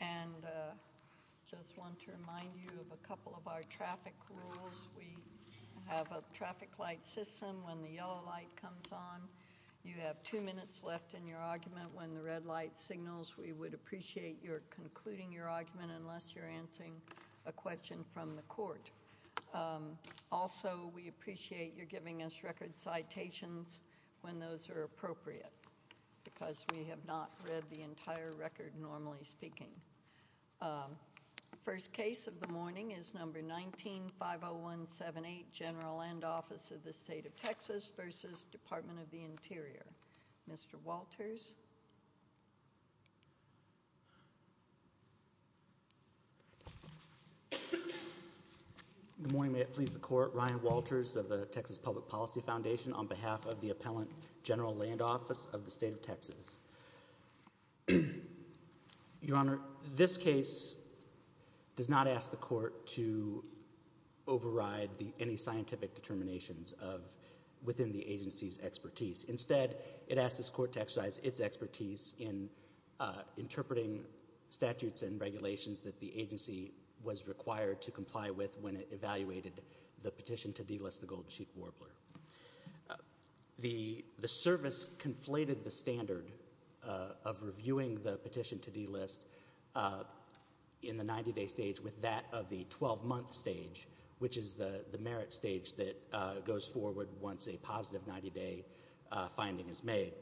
and just want to remind you of a couple of our traffic rules. We have a traffic light system when the yellow light comes on. You have two minutes left in your argument when the red light signals. We would appreciate your concluding your argument unless you're answering a question from the court. Also we appreciate your giving us record citations when those are appropriate because we have not read the entire record normally speaking. First case of the morning is number 19-50178 General Land Office of the State of Texas v. Department of the Interior. Mr. Walters. Good morning. May it please the court. Ryan Walters of the Texas Public Policy Foundation on behalf of the Appellant General Land Office of the State of Texas. Your Honor, this case does not ask the court to override any scientific determinations within the agency's expertise. Instead, it asks this court to exercise its expertise in interpreting statutes and regulations that the agency was required to comply with when it evaluated the petition to delist the Golden Sheik Warbler. The service conflated the standard of reviewing the petition to delist in the 90-day stage with that of the 12-month stage, which is the merit stage that goes forward once a positive 90-day finding is made.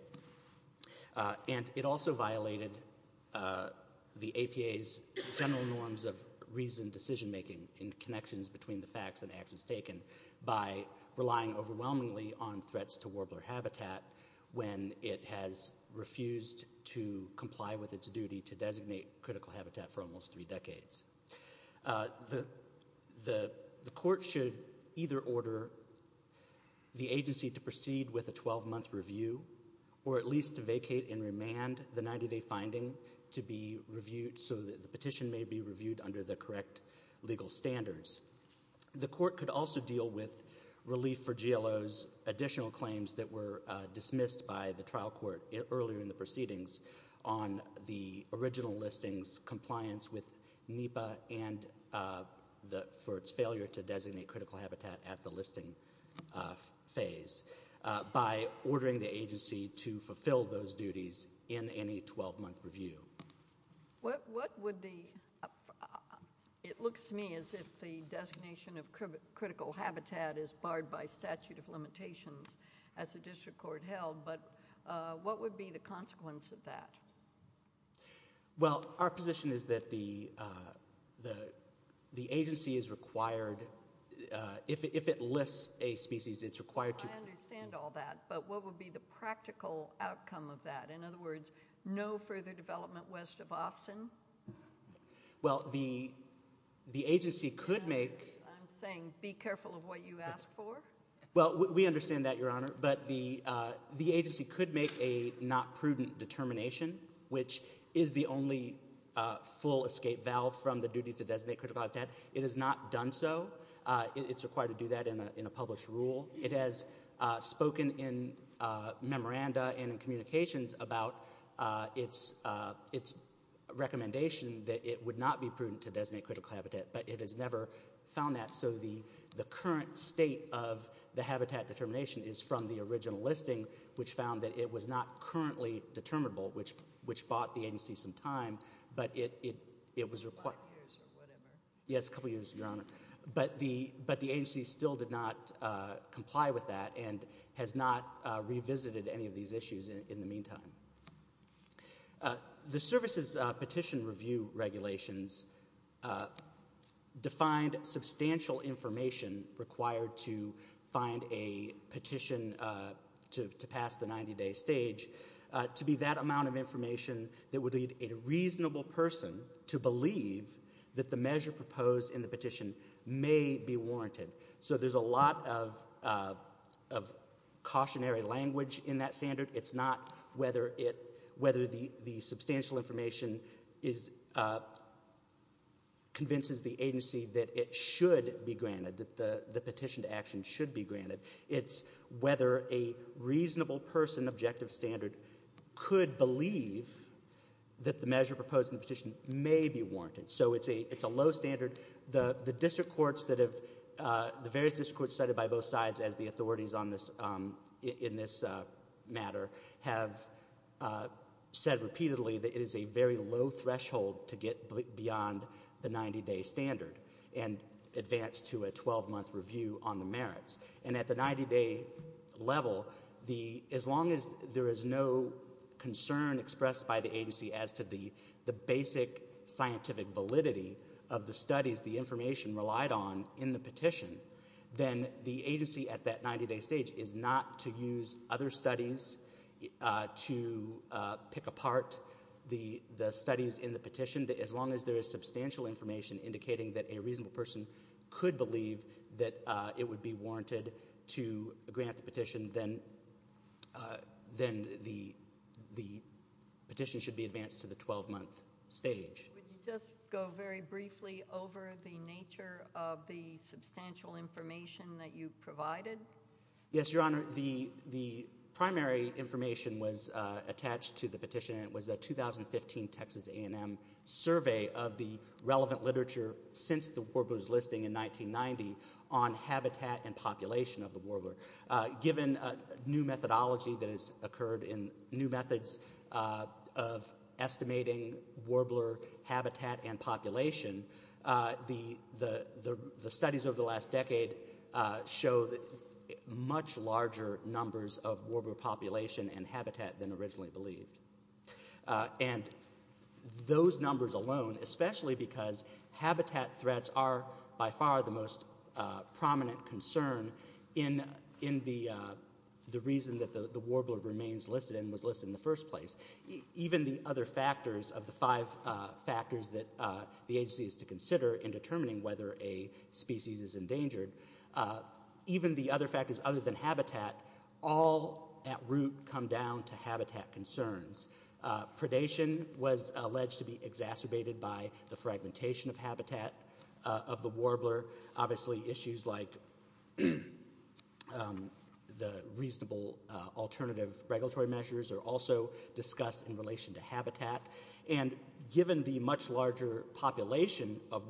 And it also violated the APA's general norms of reasoned decision-making in connections between the facts and actions taken by relying overwhelmingly on threats to warbler habitat when it has refused to comply with its duty to designate critical habitat for almost three decades. The court should either order the agency to proceed with a 12-month review or at least vacate and remand the 90-day finding to be reviewed so that the petition may be reviewed under the correct legal standards. The court could also deal with relief for GLO's additional claims that were dismissed by the trial court earlier in the proceedings on the original listing's compliance with NEPA and for its failure to designate critical habitat at the listing phase by ordering the agency to fulfill those duties in any 12-month review. What would the, it looks to me as if the designation of critical habitat is barred by statute of limitations as the district court held, but what would be the consequence of that? Well, our position is that the agency is required, if it lists a species, it's required to I understand all that, but what would be the practical outcome of that? In other words, no further development west of Austin? Well, the agency could make I'm saying be careful of what you ask for. Well, we understand that, Your Honor, but the agency could make a not prudent determination, which is the only full escape valve from the duty to designate critical habitat. It has not done so. It's required to do that in a published rule. It has spoken in memoranda and in communications about its recommendation that it would not be prudent to designate critical habitat, but it has never found that. So the current state of the habitat determination is from the original listing, which found that it was not currently determinable, which bought the agency some time, but it was required Yes, a couple years, Your Honor, but the agency still did not comply with that and has not revisited any of these issues in the meantime. The services petition review regulations defined substantial information required to find a petition to pass the 90-day stage to be that amount of information that would lead a reasonable person to believe that the measure proposed in the petition may be warranted. So there's a lot of cautionary language in that standard. It's not whether the substantial information convinces the agency that it should be granted, that the petition to action should be granted. It's whether a reasonable person objective standard could believe that the measure proposed in the petition may be warranted. So it's a low standard. The various district courts cited by both sides as the authorities in this matter have said repeatedly that it is a very low threshold to get beyond the 90-day standard and advance to a 12-month review on the merits. And at the 90-day level, as long as there is no concern expressed by the agency as to the basic scientific validity of the studies, the information relied on in the petition, then the agency at that 90-day stage is not to use other studies to pick apart the studies in the petition. As long as there is substantial information indicating that a reasonable person could believe that it would be warranted to grant the petition, then the petition should be advanced to the 12-month stage. Would you just go very briefly over the nature of the substantial information that you provided? Yes, Your Honor. The primary information was attached to the petition, and it was a 2015 Texas A&M survey of the relevant literature since the Warbler's listing in 1990 on habitat and population of the Warbler. Given new methodology that has occurred in new methods of estimating Warbler habitat and population, the studies over the last decade show much larger numbers of Warbler population and habitat than originally believed. And those numbers alone, especially because habitat threats are by far the most prominent concern in the reason that the Warbler remains listed and was listed in the first place, even the other factors of the five factors that the agency is to consider in determining whether a species is endangered, even the other factors other than habitat, all at root come down to habitat concerns. Predation was alleged to be exacerbated by the fragmentation of habitat of the Warbler. Obviously issues like the reasonable alternative regulatory measures are also discussed in relation to habitat. And given the much larger population of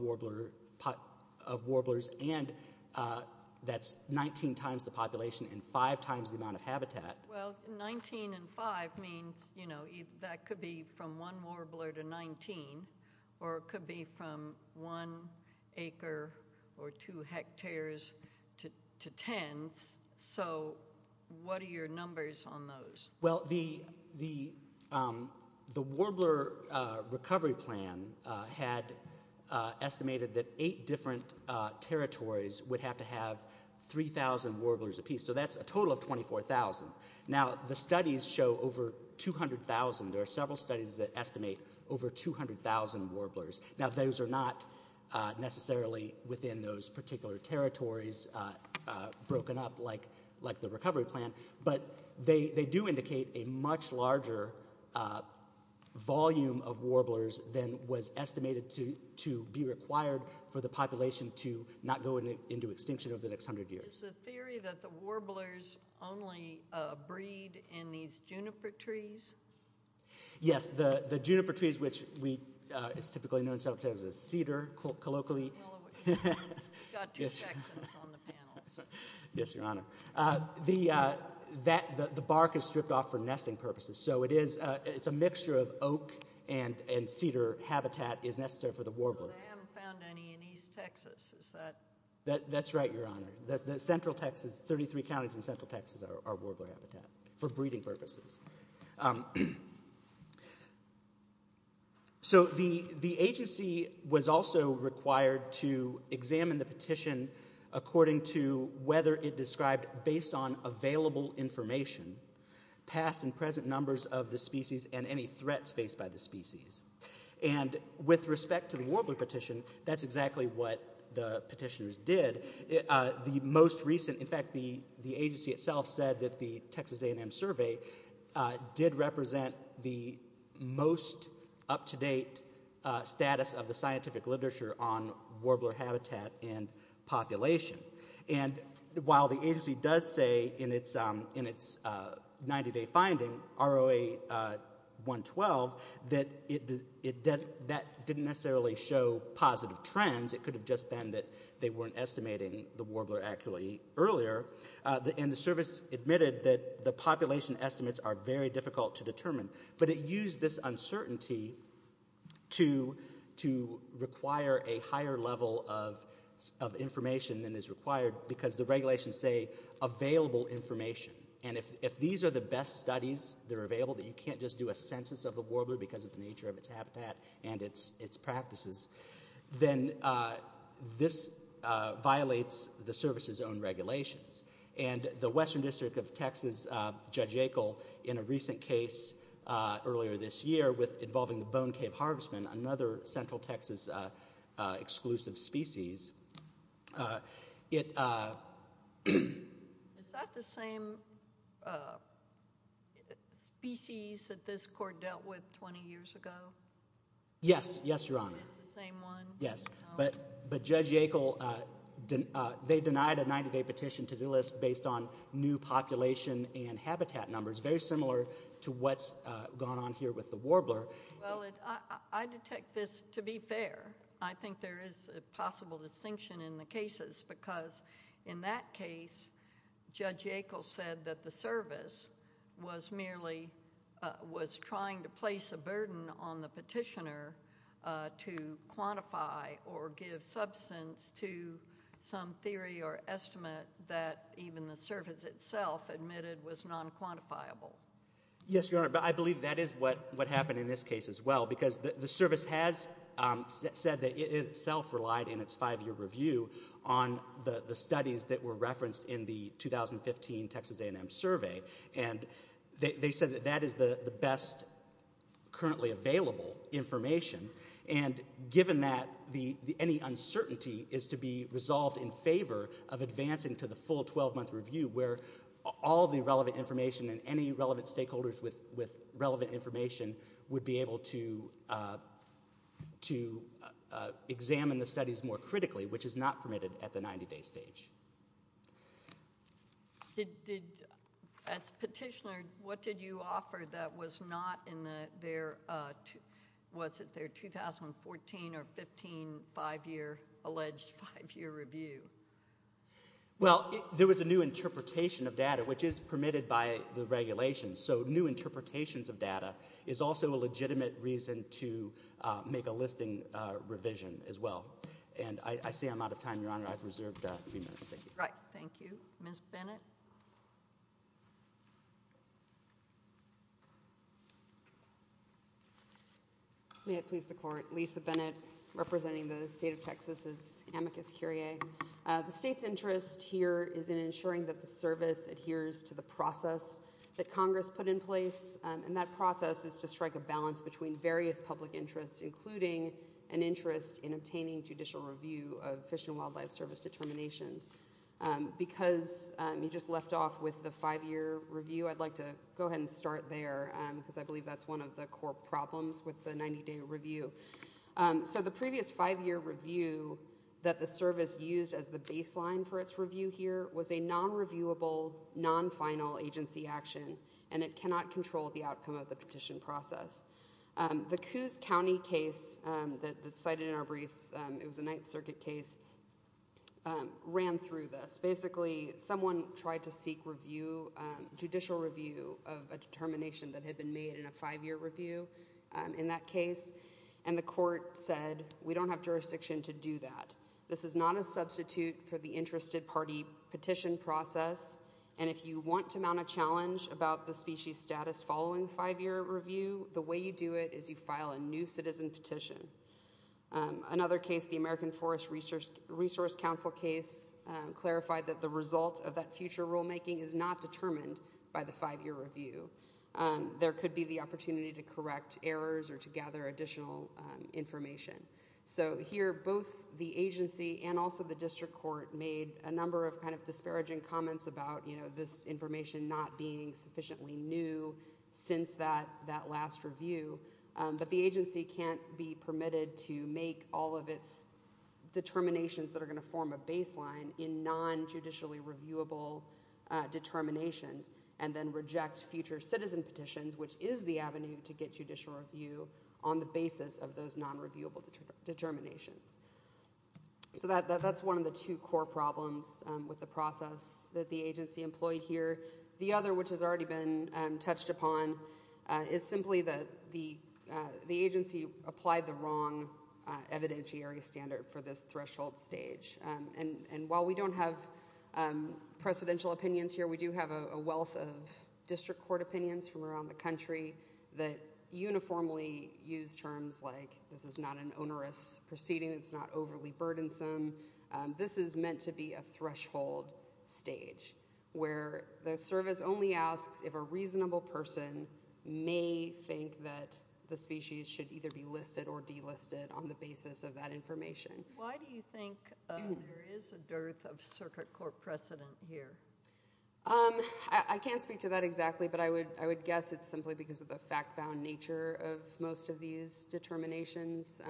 Warblers, and that's 19 times the population and 5 times the amount of habitat. Well, 19 and 5 means that could be from one Warbler to 19, or it could be from one acre or two hectares to tens. So what are your numbers on those? Well, the Warbler recovery plan had estimated that eight different territories would have to have 3,000 Warblers apiece. So that's a total of 24,000. Now, the studies show over 200,000. There are several studies that estimate over 200,000 Warblers. Now, those are not necessarily within those particular territories broken up like the recovery plan, but they do indicate a much larger volume of Warblers than was estimated to be required for the population to not go into extinction over the next 100 years. Is the theory that the Warblers only breed in these juniper trees? Yes, the juniper trees, which is typically known sometimes as cedar, colloquially. You've got two sections on the panel. Yes, Your Honor. The bark is stripped off for nesting purposes. So it's a mixture of oak and cedar habitat is necessary for the Warbler. They haven't found any in East Texas. That's right, Your Honor. The central Texas, 33 counties in central Texas are Warbler habitat for breeding purposes. So the agency was also required to examine the petition according to whether it described based on available information, past and present numbers of the species and any threats faced by the species. And with respect to the Warbler petition, that's exactly what the petitioners did. In fact, the agency itself said that the Texas A&M survey did represent the most up-to-date status of the scientific literature on Warbler habitat and population. And while the agency does say in its 90-day finding, ROA 112, that that didn't necessarily show positive trends. It could have just been that they weren't estimating the Warbler accurately earlier. And the service admitted that the population estimates are very difficult to determine. But it used this uncertainty to require a higher level of information than is required because the regulations say available information. And if these are the best studies that are available, that you can't just do a census of the Warbler because of the nature of its habitat and its practices, then this violates the service's own regulations. And the Western District of Texas, Judge Yackel, in a recent case earlier this year involving the Bone Cave Harvestman, another central Texas exclusive species, it… Is that the same species that this court dealt with 20 years ago? Yes, yes, Your Honor. It's the same one? Yes. But Judge Yackel, they denied a 90-day petition to the list based on new population and habitat numbers, very similar to what's gone on here with the Warbler. Well, I detect this to be fair. I think there is a possible distinction in the cases because in that case, Judge Yackel said that the service was merely – was trying to place a burden on the petitioner to quantify or give substance to some theory or estimate that even the service itself admitted was non-quantifiable. Yes, Your Honor. But I believe that is what happened in this case as well because the service has said that it itself relied in its five-year review on the studies that were referenced in the 2015 Texas A&M Survey. And they said that that is the best currently available information. And given that, any uncertainty is to be resolved in favor of advancing to the full 12-month review where all the relevant information and any relevant stakeholders with relevant information would be able to examine the studies more critically, which is not permitted at the 90-day stage. Did – as petitioner, what did you offer that was not in their – was it their 2014 or 15 five-year – alleged five-year review? Well, there was a new interpretation of data, which is permitted by the regulations. So new interpretations of data is also a legitimate reason to make a listing revision as well. And I see I'm out of time, Your Honor. I've reserved a few minutes. Thank you. All right. Thank you. Ms. Bennett? May it please the Court. Lisa Bennett representing the state of Texas as amicus curiae. The state's interest here is in ensuring that the service adheres to the process that Congress put in place. And that process is to strike a balance between various public interests, including an interest in obtaining judicial review of Fish and Wildlife Service determinations. Because you just left off with the five-year review, I'd like to go ahead and start there because I believe that's one of the core problems with the 90-day review. So the previous five-year review that the service used as the baseline for its review here was a non-reviewable, non-final agency action. And it cannot control the outcome of the petition process. The Coos County case that's cited in our briefs – it was a Ninth Circuit case – ran through this. Basically, someone tried to seek review – judicial review of a determination that had been made in a five-year review in that case. And the court said, we don't have jurisdiction to do that. This is not a substitute for the interested party petition process. And if you want to mount a challenge about the species status following five-year review, the way you do it is you file a new citizen petition. Another case, the American Forest Resource Council case, clarified that the result of that future rulemaking is not determined by the five-year review. There could be the opportunity to correct errors or to gather additional information. So here, both the agency and also the district court made a number of kind of disparaging comments about this information not being sufficiently new since that last review. But the agency can't be permitted to make all of its determinations that are going to form a baseline in non-judicially reviewable determinations and then reject future citizen petitions, which is the avenue to get judicial review on the basis of those non-reviewable determinations. So that's one of the two core problems with the process that the agency employed here. The other, which has already been touched upon, is simply that the agency applied the wrong evidentiary standard for this threshold stage. And while we don't have precedential opinions here, we do have a wealth of district court opinions from around the country that uniformly use terms like this is not an onerous proceeding, it's not overly burdensome. This is meant to be a threshold stage where the service only asks if a reasonable person may think that the species should either be listed or delisted on the basis of that information. Why do you think there is a dearth of circuit court precedent here? I can't speak to that exactly, but I would guess it's simply because of the fact-bound nature of most of these determinations.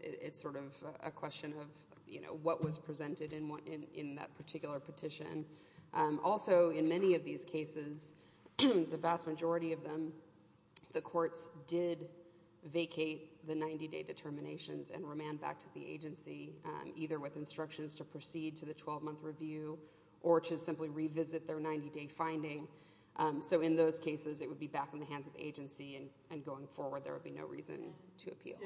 It's sort of a question of what was presented in that particular petition. Also, in many of these cases, the vast majority of them, the courts did vacate the 90-day determinations and remand back to the agency, either with instructions to proceed to the 12-month review or to simply revisit their 90-day finding. So in those cases, it would be back in the hands of the agency, and going forward, there would be no reason to appeal.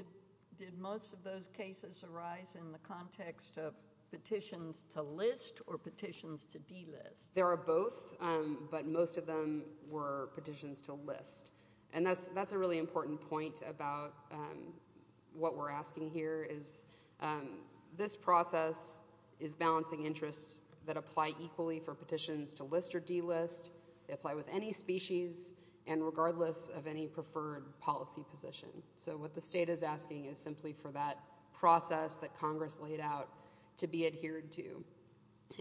Did most of those cases arise in the context of petitions to list or petitions to delist? There are both, but most of them were petitions to list. That's a really important point about what we're asking here. This process is balancing interests that apply equally for petitions to list or delist. They apply with any species and regardless of any preferred policy position. So what the state is asking is simply for that process that Congress laid out to be adhered to.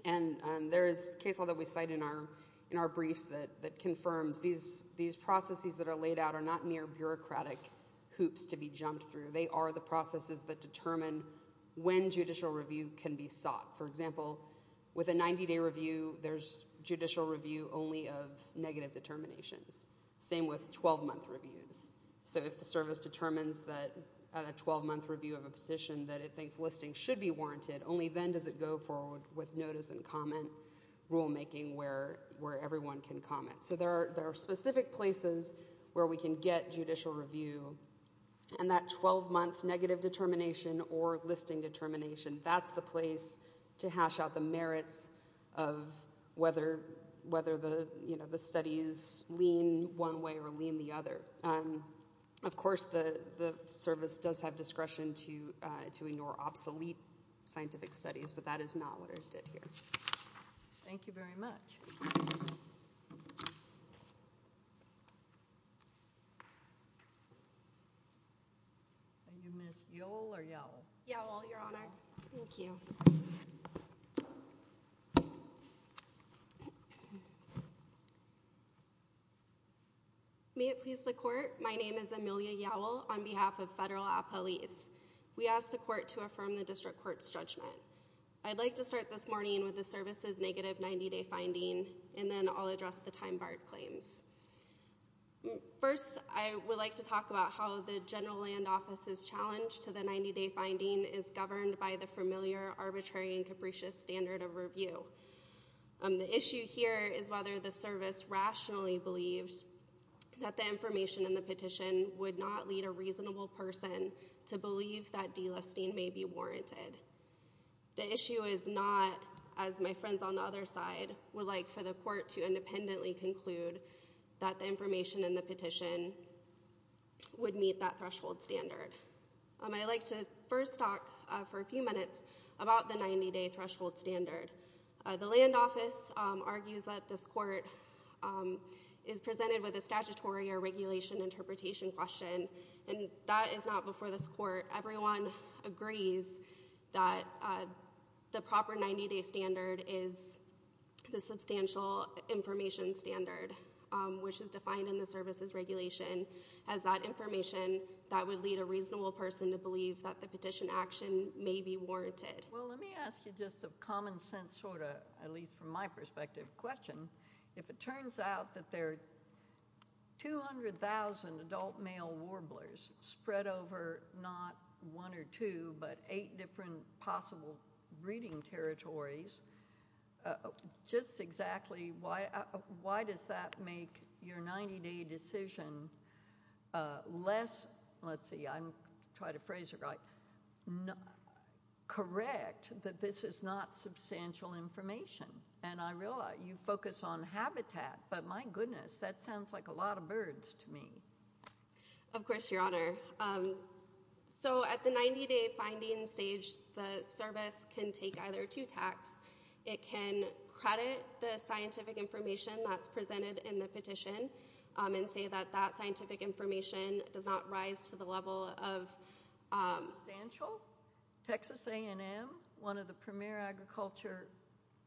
And there is a case law that we cite in our briefs that confirms these processes that are laid out are not mere bureaucratic hoops to be jumped through. They are the processes that determine when judicial review can be sought. For example, with a 90-day review, there's judicial review only of negative determinations. Same with 12-month reviews. So if the service determines that a 12-month review of a petition that it thinks listing should be warranted, only then does it go forward with notice and comment rulemaking where everyone can comment. So there are specific places where we can get judicial review. And that 12-month negative determination or listing determination, that's the place to hash out the merits of whether the studies lean one way or lean the other. But, of course, the service does have discretion to ignore obsolete scientific studies, but that is not what it did here. Thank you very much. Are you Ms. Yowell or Yowell? Yowell, Your Honor. Thank you. May it please the court, my name is Amelia Yowell on behalf of Federal Appellees. We ask the court to affirm the district court's judgment. I'd like to start this morning with the service's negative 90-day finding and then I'll address the time barred claims. First, I would like to talk about how the general land office's challenge to the 90-day finding is governed by the familiar arbitrary and capricious standard of review. The issue here is whether the service rationally believes that the information in the petition would not lead a reasonable person to believe that delisting may be warranted. The issue is not, as my friends on the other side would like for the court to independently conclude, that the information in the petition would meet that threshold standard. I'd like to first talk for a few minutes about the 90-day threshold standard. The land office argues that this court is presented with a statutory or regulation interpretation question and that is not before this court. Everyone agrees that the proper 90-day standard is the substantial information standard, which is defined in the service's regulation as that information that would lead a reasonable person to believe that the petition action may be warranted. Well, let me ask you just a common sense sort of, at least from my perspective, question. If it turns out that there are 200,000 adult male warblers spread over not one or two, but eight different possible breeding territories, just exactly why does that make your 90-day decision less, let's see, I'm trying to phrase it right, correct that this is not substantial information? And I realize you focus on habitat, but my goodness, that sounds like a lot of birds to me. Of course, Your Honor. So at the 90-day finding stage, the service can take either two tacks. It can credit the scientific information that's presented in the petition and say that that scientific information does not rise to the level of—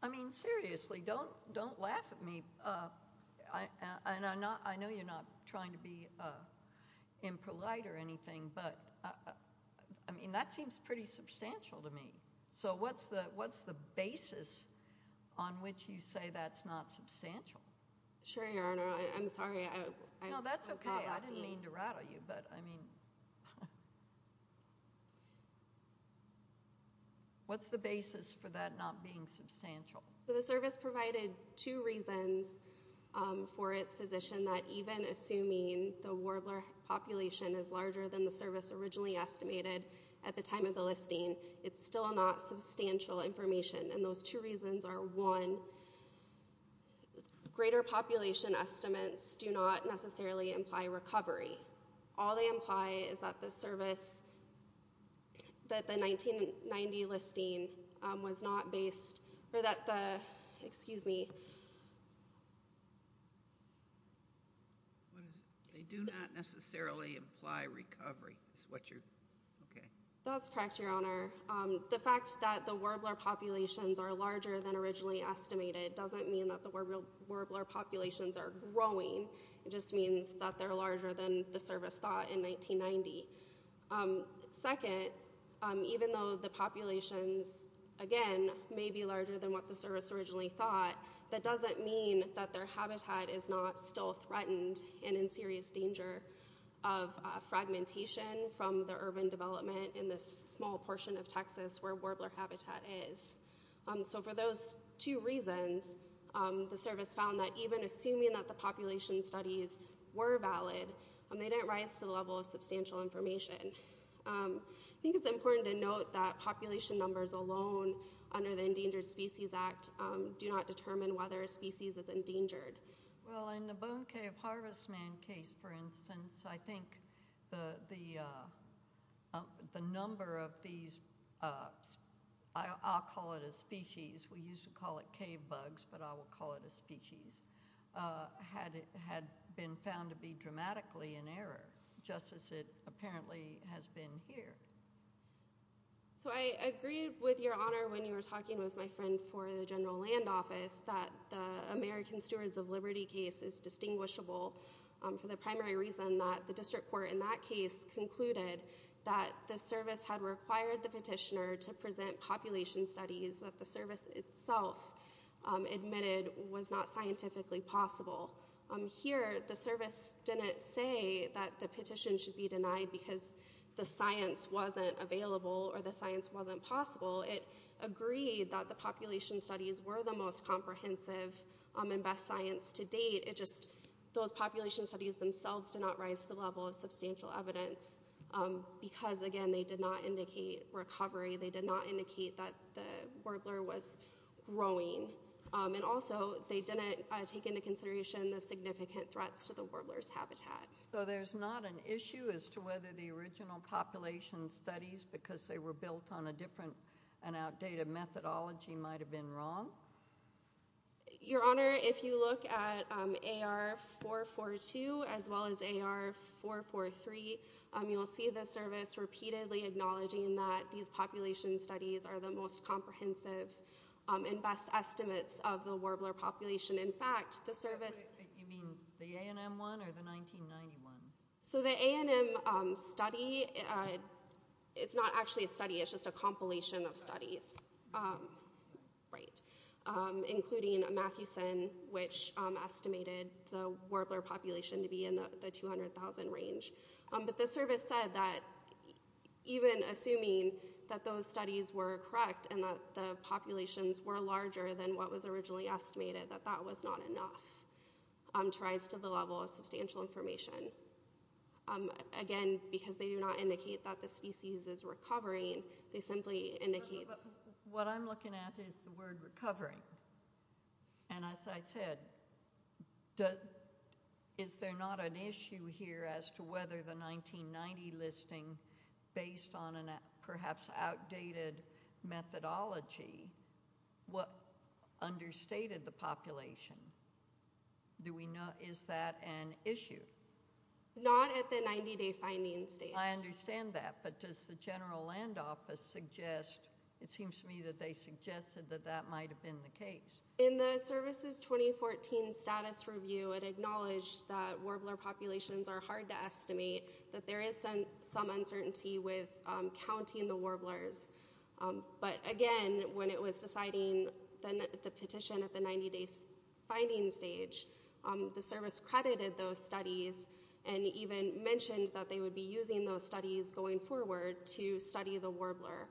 I mean, seriously, don't laugh at me. I know you're not trying to be impolite or anything, but, I mean, that seems pretty substantial to me. So what's the basis on which you say that's not substantial? Sure, Your Honor. I'm sorry. No, that's okay. I didn't mean to rattle you, but, I mean, what's the basis for that not being substantial? So the service provided two reasons for its position that even assuming the warbler population is larger than the service originally estimated at the time of the listing, it's still not substantial information. And those two reasons are, one, greater population estimates do not necessarily imply recovery. All they imply is that the service—that the 1990 listing was not based—or that the—excuse me. What is it? They do not necessarily imply recovery is what you're—okay. That's correct, Your Honor. The fact that the warbler populations are larger than originally estimated doesn't mean that the warbler populations are growing. It just means that they're larger than the service thought in 1990. Second, even though the populations, again, may be larger than what the service originally thought, that doesn't mean that their habitat is not still threatened and in serious danger of fragmentation from the urban development in this small portion of Texas where warbler habitat is. So for those two reasons, the service found that even assuming that the population studies were valid, they didn't rise to the level of substantial information. I think it's important to note that population numbers alone under the Endangered Species Act do not determine whether a species is endangered. Well, in the Bone Cave Harvest Man case, for instance, I think the number of these—I'll call it a species. We used to call it cave bugs, but I will call it a species—had been found to be dramatically in error, just as it apparently has been here. So I agreed with your honor when you were talking with my friend for the General Land Office that the American Stewards of Liberty case is distinguishable for the primary reason that the district court in that case concluded that the service had required the petitioner to present population studies that the service itself admitted was not scientifically possible. Here, the service didn't say that the petition should be denied because the science wasn't available or the science wasn't possible. It agreed that the population studies were the most comprehensive and best science to date. It just—those population studies themselves did not rise to the level of substantial evidence because, again, they did not indicate recovery. They did not indicate that the warbler was growing. And also, they didn't take into consideration the significant threats to the warbler's habitat. So there's not an issue as to whether the original population studies, because they were built on a different and outdated methodology, might have been wrong? Your honor, if you look at AR442 as well as AR443, you'll see the service repeatedly acknowledging that these population studies are the most comprehensive and best estimates of the warbler population. In fact, the service— You mean the A&M one or the 1991? So the A&M study—it's not actually a study. It's just a compilation of studies. Right. Including Matthewson, which estimated the warbler population to be in the 200,000 range. But the service said that even assuming that those studies were correct and that the populations were larger than what was originally estimated, that that was not enough to rise to the level of substantial information. Again, because they do not indicate that the species is recovering. They simply indicate— What I'm looking at is the word recovering. And as I said, is there not an issue here as to whether the 1990 listing, based on a perhaps outdated methodology, understated the population? Is that an issue? Not at the 90-day finding stage. I understand that. But does the general land office suggest—it seems to me that they suggested that that might have been the case. In the service's 2014 status review, it acknowledged that warbler populations are hard to estimate, that there is some uncertainty with counting the warblers. But again, when it was deciding the petition at the 90-day finding stage, the service credited those studies and even mentioned that they would be using those studies going forward to study the warbler.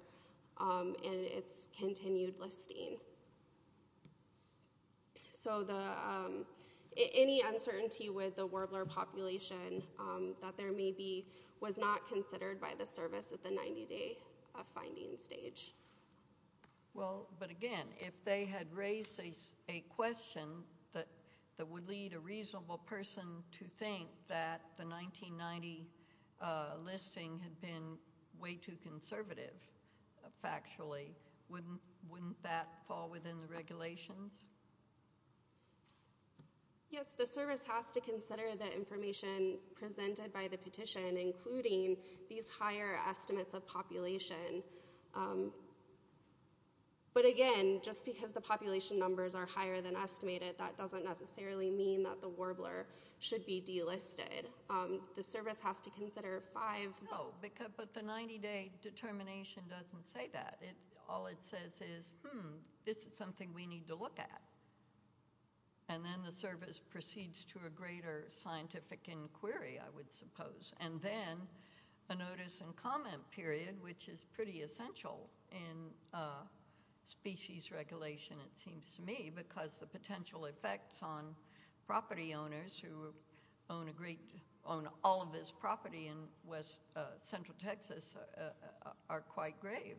And it's continued listing. So any uncertainty with the warbler population that there may be was not considered by the service at the 90-day finding stage. Well, but again, if they had raised a question that would lead a reasonable person to think that the 1990 listing had been way too conservative factually, wouldn't that fall within the regulations? Yes, the service has to consider the information presented by the petition, including these higher estimates of population. But again, just because the population numbers are higher than estimated, that doesn't necessarily mean that the warbler should be delisted. The service has to consider five— No, but the 90-day determination doesn't say that. All it says is, hmm, this is something we need to look at. And then the service proceeds to a greater scientific inquiry, I would suppose. And then a notice and comment period, which is pretty essential in species regulation, it seems to me, because the potential effects on property owners who own all of this property in central Texas are quite grave.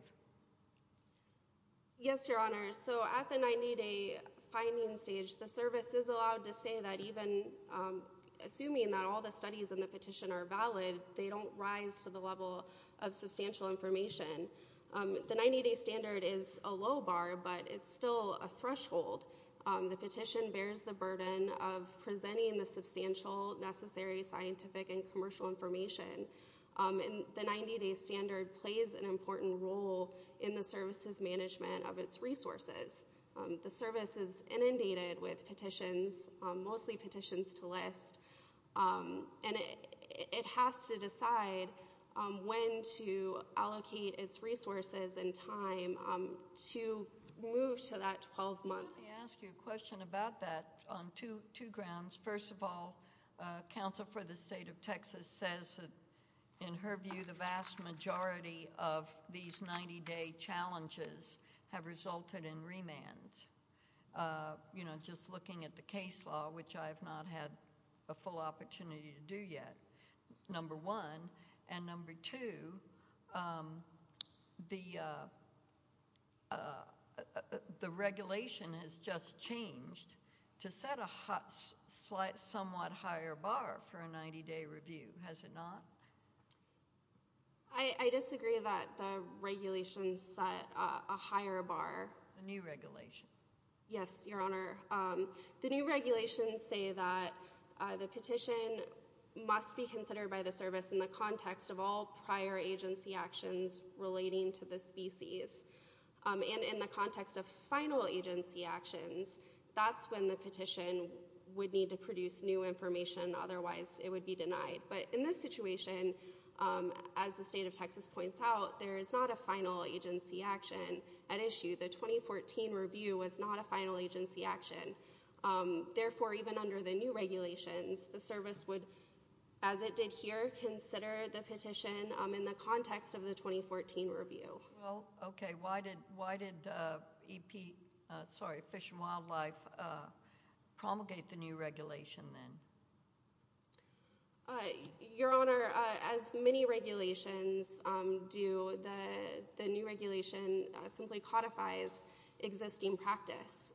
Yes, Your Honor. So at the 90-day finding stage, the service is allowed to say that even assuming that all the studies in the petition are valid, they don't rise to the level of substantial information. The 90-day standard is a low bar, but it's still a threshold. The petition bears the burden of presenting the substantial necessary scientific and commercial information. The 90-day standard plays an important role in the services management of its resources. The service is inundated with petitions, mostly petitions to list, and it has to decide when to allocate its resources and time to move to that 12-month period. Let me ask you a question about that on two grounds. First of all, counsel for the state of Texas says that, in her view, the vast majority of these 90-day challenges have resulted in remands. You know, just looking at the case law, which I have not had a full opportunity to do yet, number one. And number two, the regulation has just changed to set a somewhat higher bar for a 90-day review, has it not? I disagree that the regulation set a higher bar. The new regulation. Yes, Your Honor. The new regulations say that the petition must be considered by the service in the context of all prior agency actions relating to the species. And in the context of final agency actions, that's when the petition would need to produce new information, otherwise it would be denied. But in this situation, as the state of Texas points out, there is not a final agency action at issue. The 2014 review was not a final agency action. Therefore, even under the new regulations, the service would, as it did here, consider the petition in the context of the 2014 review. Well, okay. Why did Fish and Wildlife promulgate the new regulation then? Your Honor, as many regulations do, the new regulation simply codifies existing practice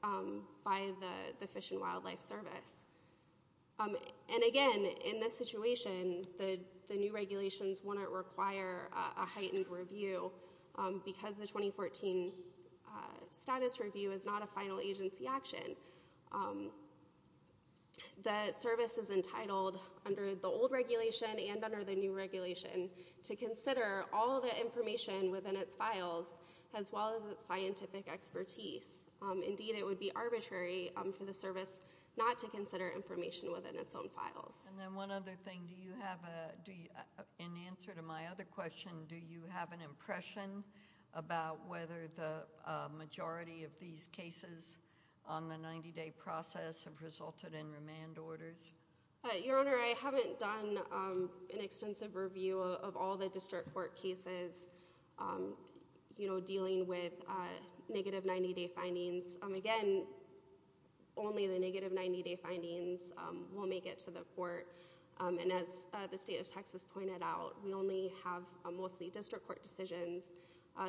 by the Fish and Wildlife Service. And again, in this situation, the new regulations wouldn't require a heightened review because the 2014 status review is not a final agency action. The service is entitled, under the old regulation and under the new regulation, to consider all the information within its files, as well as its scientific expertise. Indeed, it would be arbitrary for the service not to consider information within its own files. And then one other thing. In answer to my other question, do you have an impression about whether the majority of these cases on the 90-day process have resulted in remand orders? Your Honor, I haven't done an extensive review of all the district court cases dealing with negative 90-day findings. Again, only the negative 90-day findings will make it to the court. And as the state of Texas pointed out, we only have mostly district court decisions.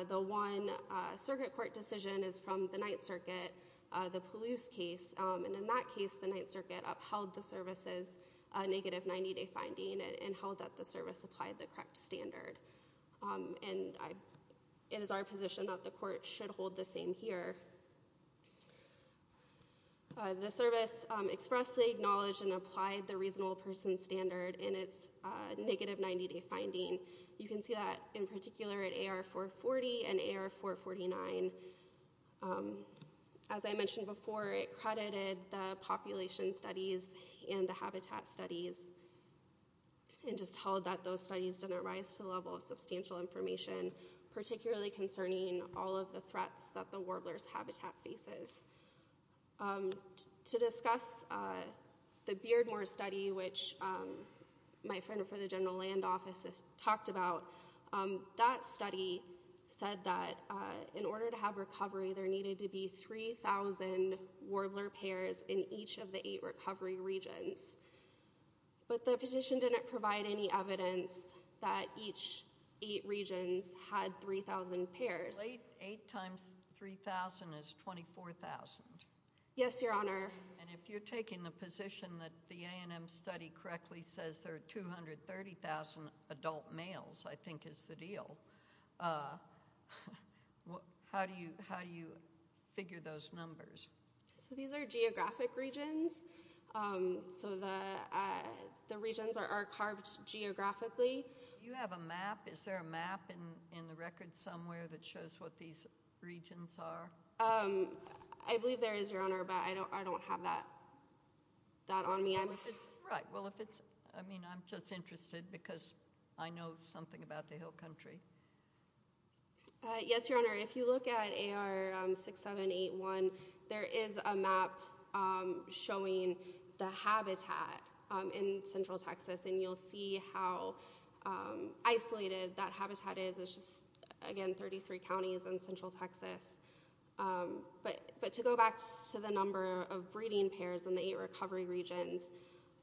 The one circuit court decision is from the Ninth Circuit, the Palouse case. And in that case, the Ninth Circuit upheld the service's negative 90-day finding and held that the service applied the correct standard. And it is our position that the court should hold the same here. The service expressly acknowledged and applied the reasonable person standard in its negative 90-day finding. You can see that in particular at AR 440 and AR 449. As I mentioned before, it credited the population studies and the habitat studies and just held that those studies didn't rise to the level of substantial information, particularly concerning all of the threats that the warbler's habitat faces. To discuss the Beardmore study, which my friend from the General Land Office has talked about, that study said that in order to have recovery, there needed to be 3,000 warbler pairs in each of the eight recovery regions. But the petition didn't provide any evidence that each eight regions had 3,000 pairs. Eight times 3,000 is 24,000. Yes, Your Honor. And if you're taking the position that the A&M study correctly says there are 230,000 adult males, I think is the deal, how do you figure those numbers? So these are geographic regions. So the regions are carved geographically. Do you have a map? Is there a map in the record somewhere that shows what these regions are? I believe there is, Your Honor, but I don't have that on me. Right. Well, if it's ‑‑ I mean, I'm just interested because I know something about the Hill Country. Yes, Your Honor. If you look at AR6781, there is a map showing the habitat in central Texas, and you'll see how isolated that habitat is. It's just, again, 33 counties in central Texas. But to go back to the number of breeding pairs in the eight recovery regions,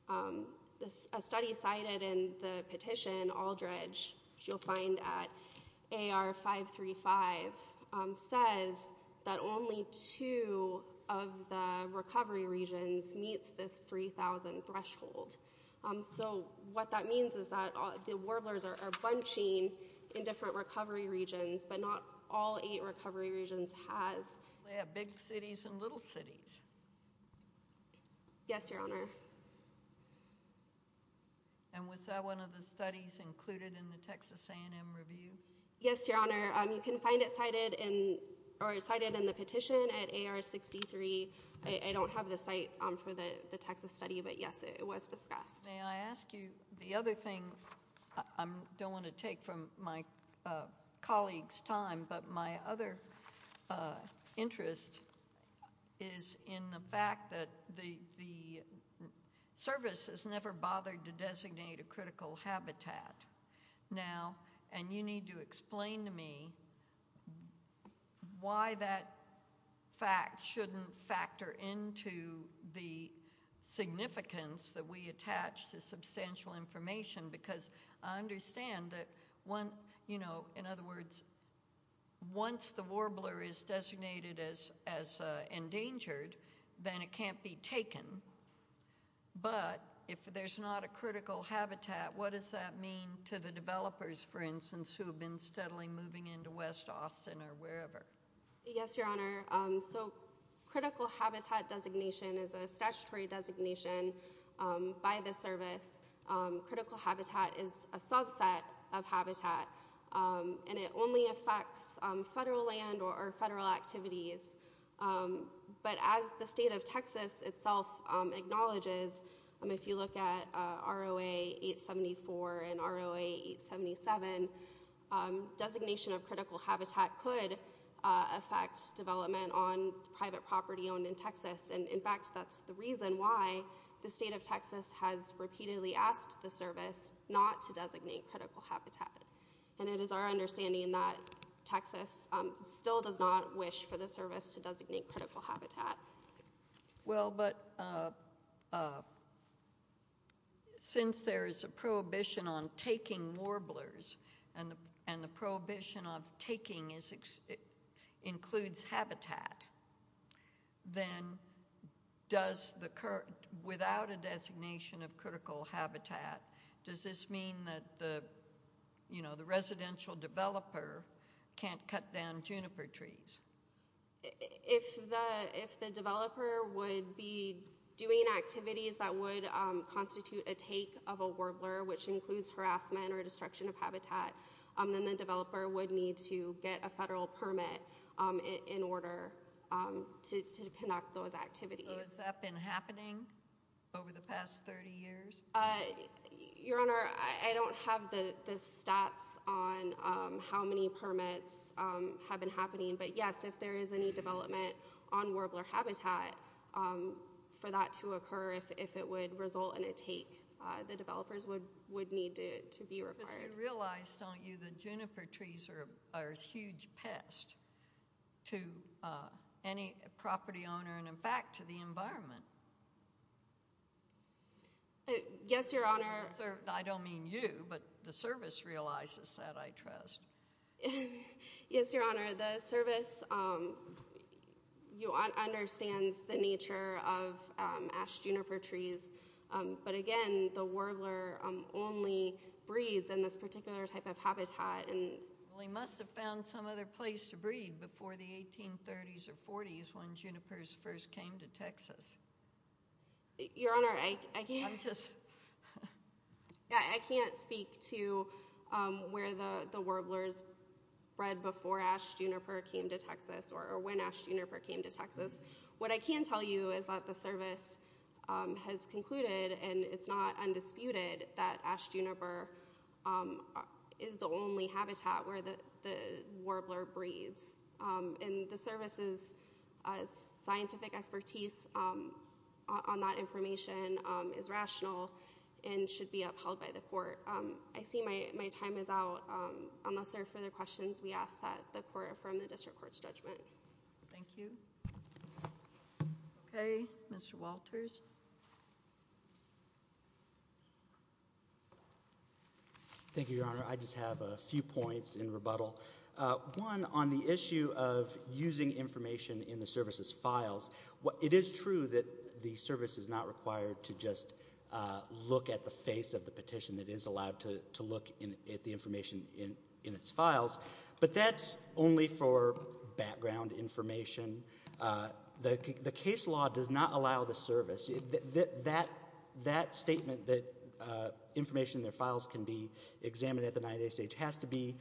a study cited in the petition, Aldridge, which you'll find at AR535, says that only two of the recovery regions meets this 3,000 threshold. So what that means is that the warblers are bunching in different recovery regions, but not all eight recovery regions has. They have big cities and little cities. Yes, Your Honor. And was that one of the studies included in the Texas A&M Review? Yes, Your Honor. You can find it cited in the petition at AR63. I don't have the site for the Texas study, but, yes, it was discussed. May I ask you, the other thing I don't want to take from my colleague's time, but my other interest is in the fact that the service has never bothered to designate a critical habitat. Now, and you need to explain to me why that fact shouldn't factor into the significance that we attach to substantial information, because I understand that, you know, in other words, once the warbler is designated as endangered, then it can't be taken. But if there's not a critical habitat, what does that mean to the developers, for instance, who have been steadily moving into West Austin or wherever? Yes, Your Honor. So critical habitat designation is a statutory designation by the service. Critical habitat is a subset of habitat, and it only affects federal land or federal activities. But as the state of Texas itself acknowledges, if you look at ROA 874 and ROA 877, designation of critical habitat could affect development on private property owned in Texas. And, in fact, that's the reason why the state of Texas has repeatedly asked the service not to designate critical habitat. And it is our understanding that Texas still does not wish for the service to designate critical habitat. Well, but since there is a prohibition on taking warblers and the prohibition of taking includes habitat, then without a designation of critical habitat, does this mean that the residential developer can't cut down juniper trees? If the developer would be doing activities that would constitute a take of a warbler, which includes harassment or destruction of habitat, then the developer would need to get a federal permit in order to conduct those activities. So has that been happening over the past 30 years? Your Honor, I don't have the stats on how many permits have been happening. But, yes, if there is any development on warbler habitat for that to occur, if it would result in a take, the developers would need to be required. Because you realize, don't you, that juniper trees are a huge pest to any property owner and, in fact, to the environment. Yes, Your Honor. I don't mean you, but the service realizes that, I trust. Yes, Your Honor. The service understands the nature of ash juniper trees. But, again, the warbler only breathes in this particular type of habitat. Well, he must have found some other place to breathe before the 1830s or 40s when junipers first came to Texas. Your Honor, I can't speak to where the warblers bred before ash juniper came to Texas or when ash juniper came to Texas. What I can tell you is that the service has concluded, and it's not undisputed, that ash juniper is the only habitat where the warbler breathes. And the service's scientific expertise on that information is rational and should be upheld by the court. I see my time is out. Unless there are further questions, we ask that the court affirm the district court's judgment. Thank you. Okay, Mr. Walters. Thank you, Your Honor. I just have a few points in rebuttal. One, on the issue of using information in the service's files, it is true that the service is not required to just look at the face of the petition that is allowed to look at the information in its files, but that's only for background information. The case law does not allow the service. That statement that information in their files can be examined at the 90-day stage has to be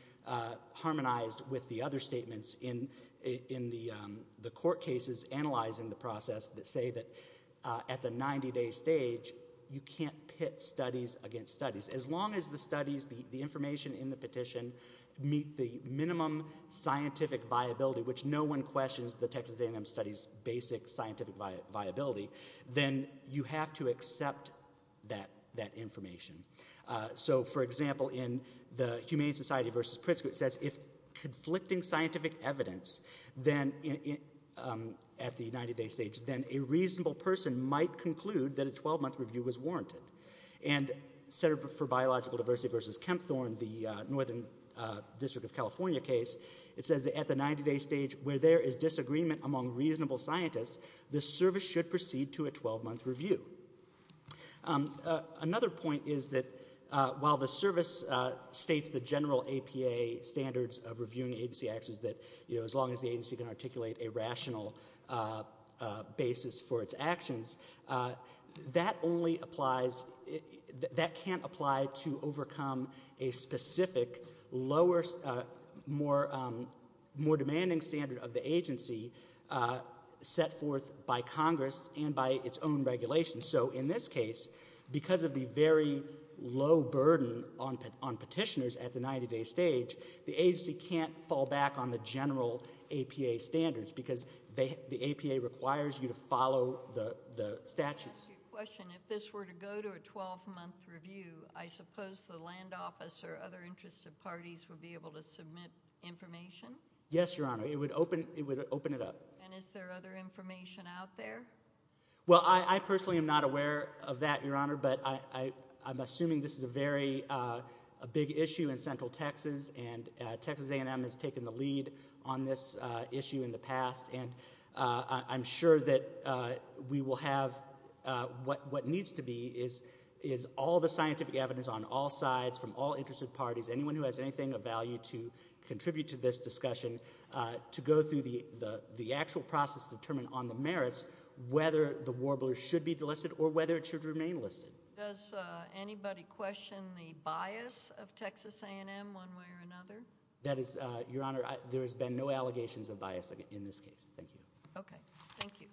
harmonized with the other statements in the court cases analyzing the process that say that at the 90-day stage, you can't pit studies against studies. As long as the studies, the information in the petition, meet the minimum scientific viability, which no one questions the Texas A&M Studies basic scientific viability, then you have to accept that information. So, for example, in the Humane Society v. Pritzker, it says if conflicting scientific evidence at the 90-day stage, then a reasonable person might conclude that a 12-month review was warranted. And Center for Biological Diversity v. Kempthorne, the Northern District of California case, it says that at the 90-day stage, where there is disagreement among reasonable scientists, the service should proceed to a 12-month review. Another point is that while the service states the general APA standards of reviewing agency actions, that as long as the agency can articulate a rational basis for its actions, that only applies — that can't apply to overcome a specific, lower, more demanding standard of the agency set forth by Congress and by its own regulations. So in this case, because of the very low burden on petitioners at the 90-day stage, the agency can't fall back on the general APA standards because the APA requires you to follow the statutes. Can I ask you a question? If this were to go to a 12-month review, I suppose the land office or other interested parties would be able to submit information? Yes, Your Honor. It would open it up. And is there other information out there? Well, I personally am not aware of that, Your Honor, but I'm assuming this is a very big issue in Central Texas and Texas A&M has taken the lead on this issue in the past. And I'm sure that we will have what needs to be is all the scientific evidence on all sides from all interested parties, anyone who has anything of value to contribute to this discussion, to go through the actual process to determine on the merits whether the warblers should be delisted or whether it should remain listed. Does anybody question the bias of Texas A&M one way or another? That is, Your Honor, there has been no allegations of bias in this case. Thank you. Okay. Thank you.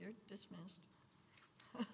You're dismissed. Thank you.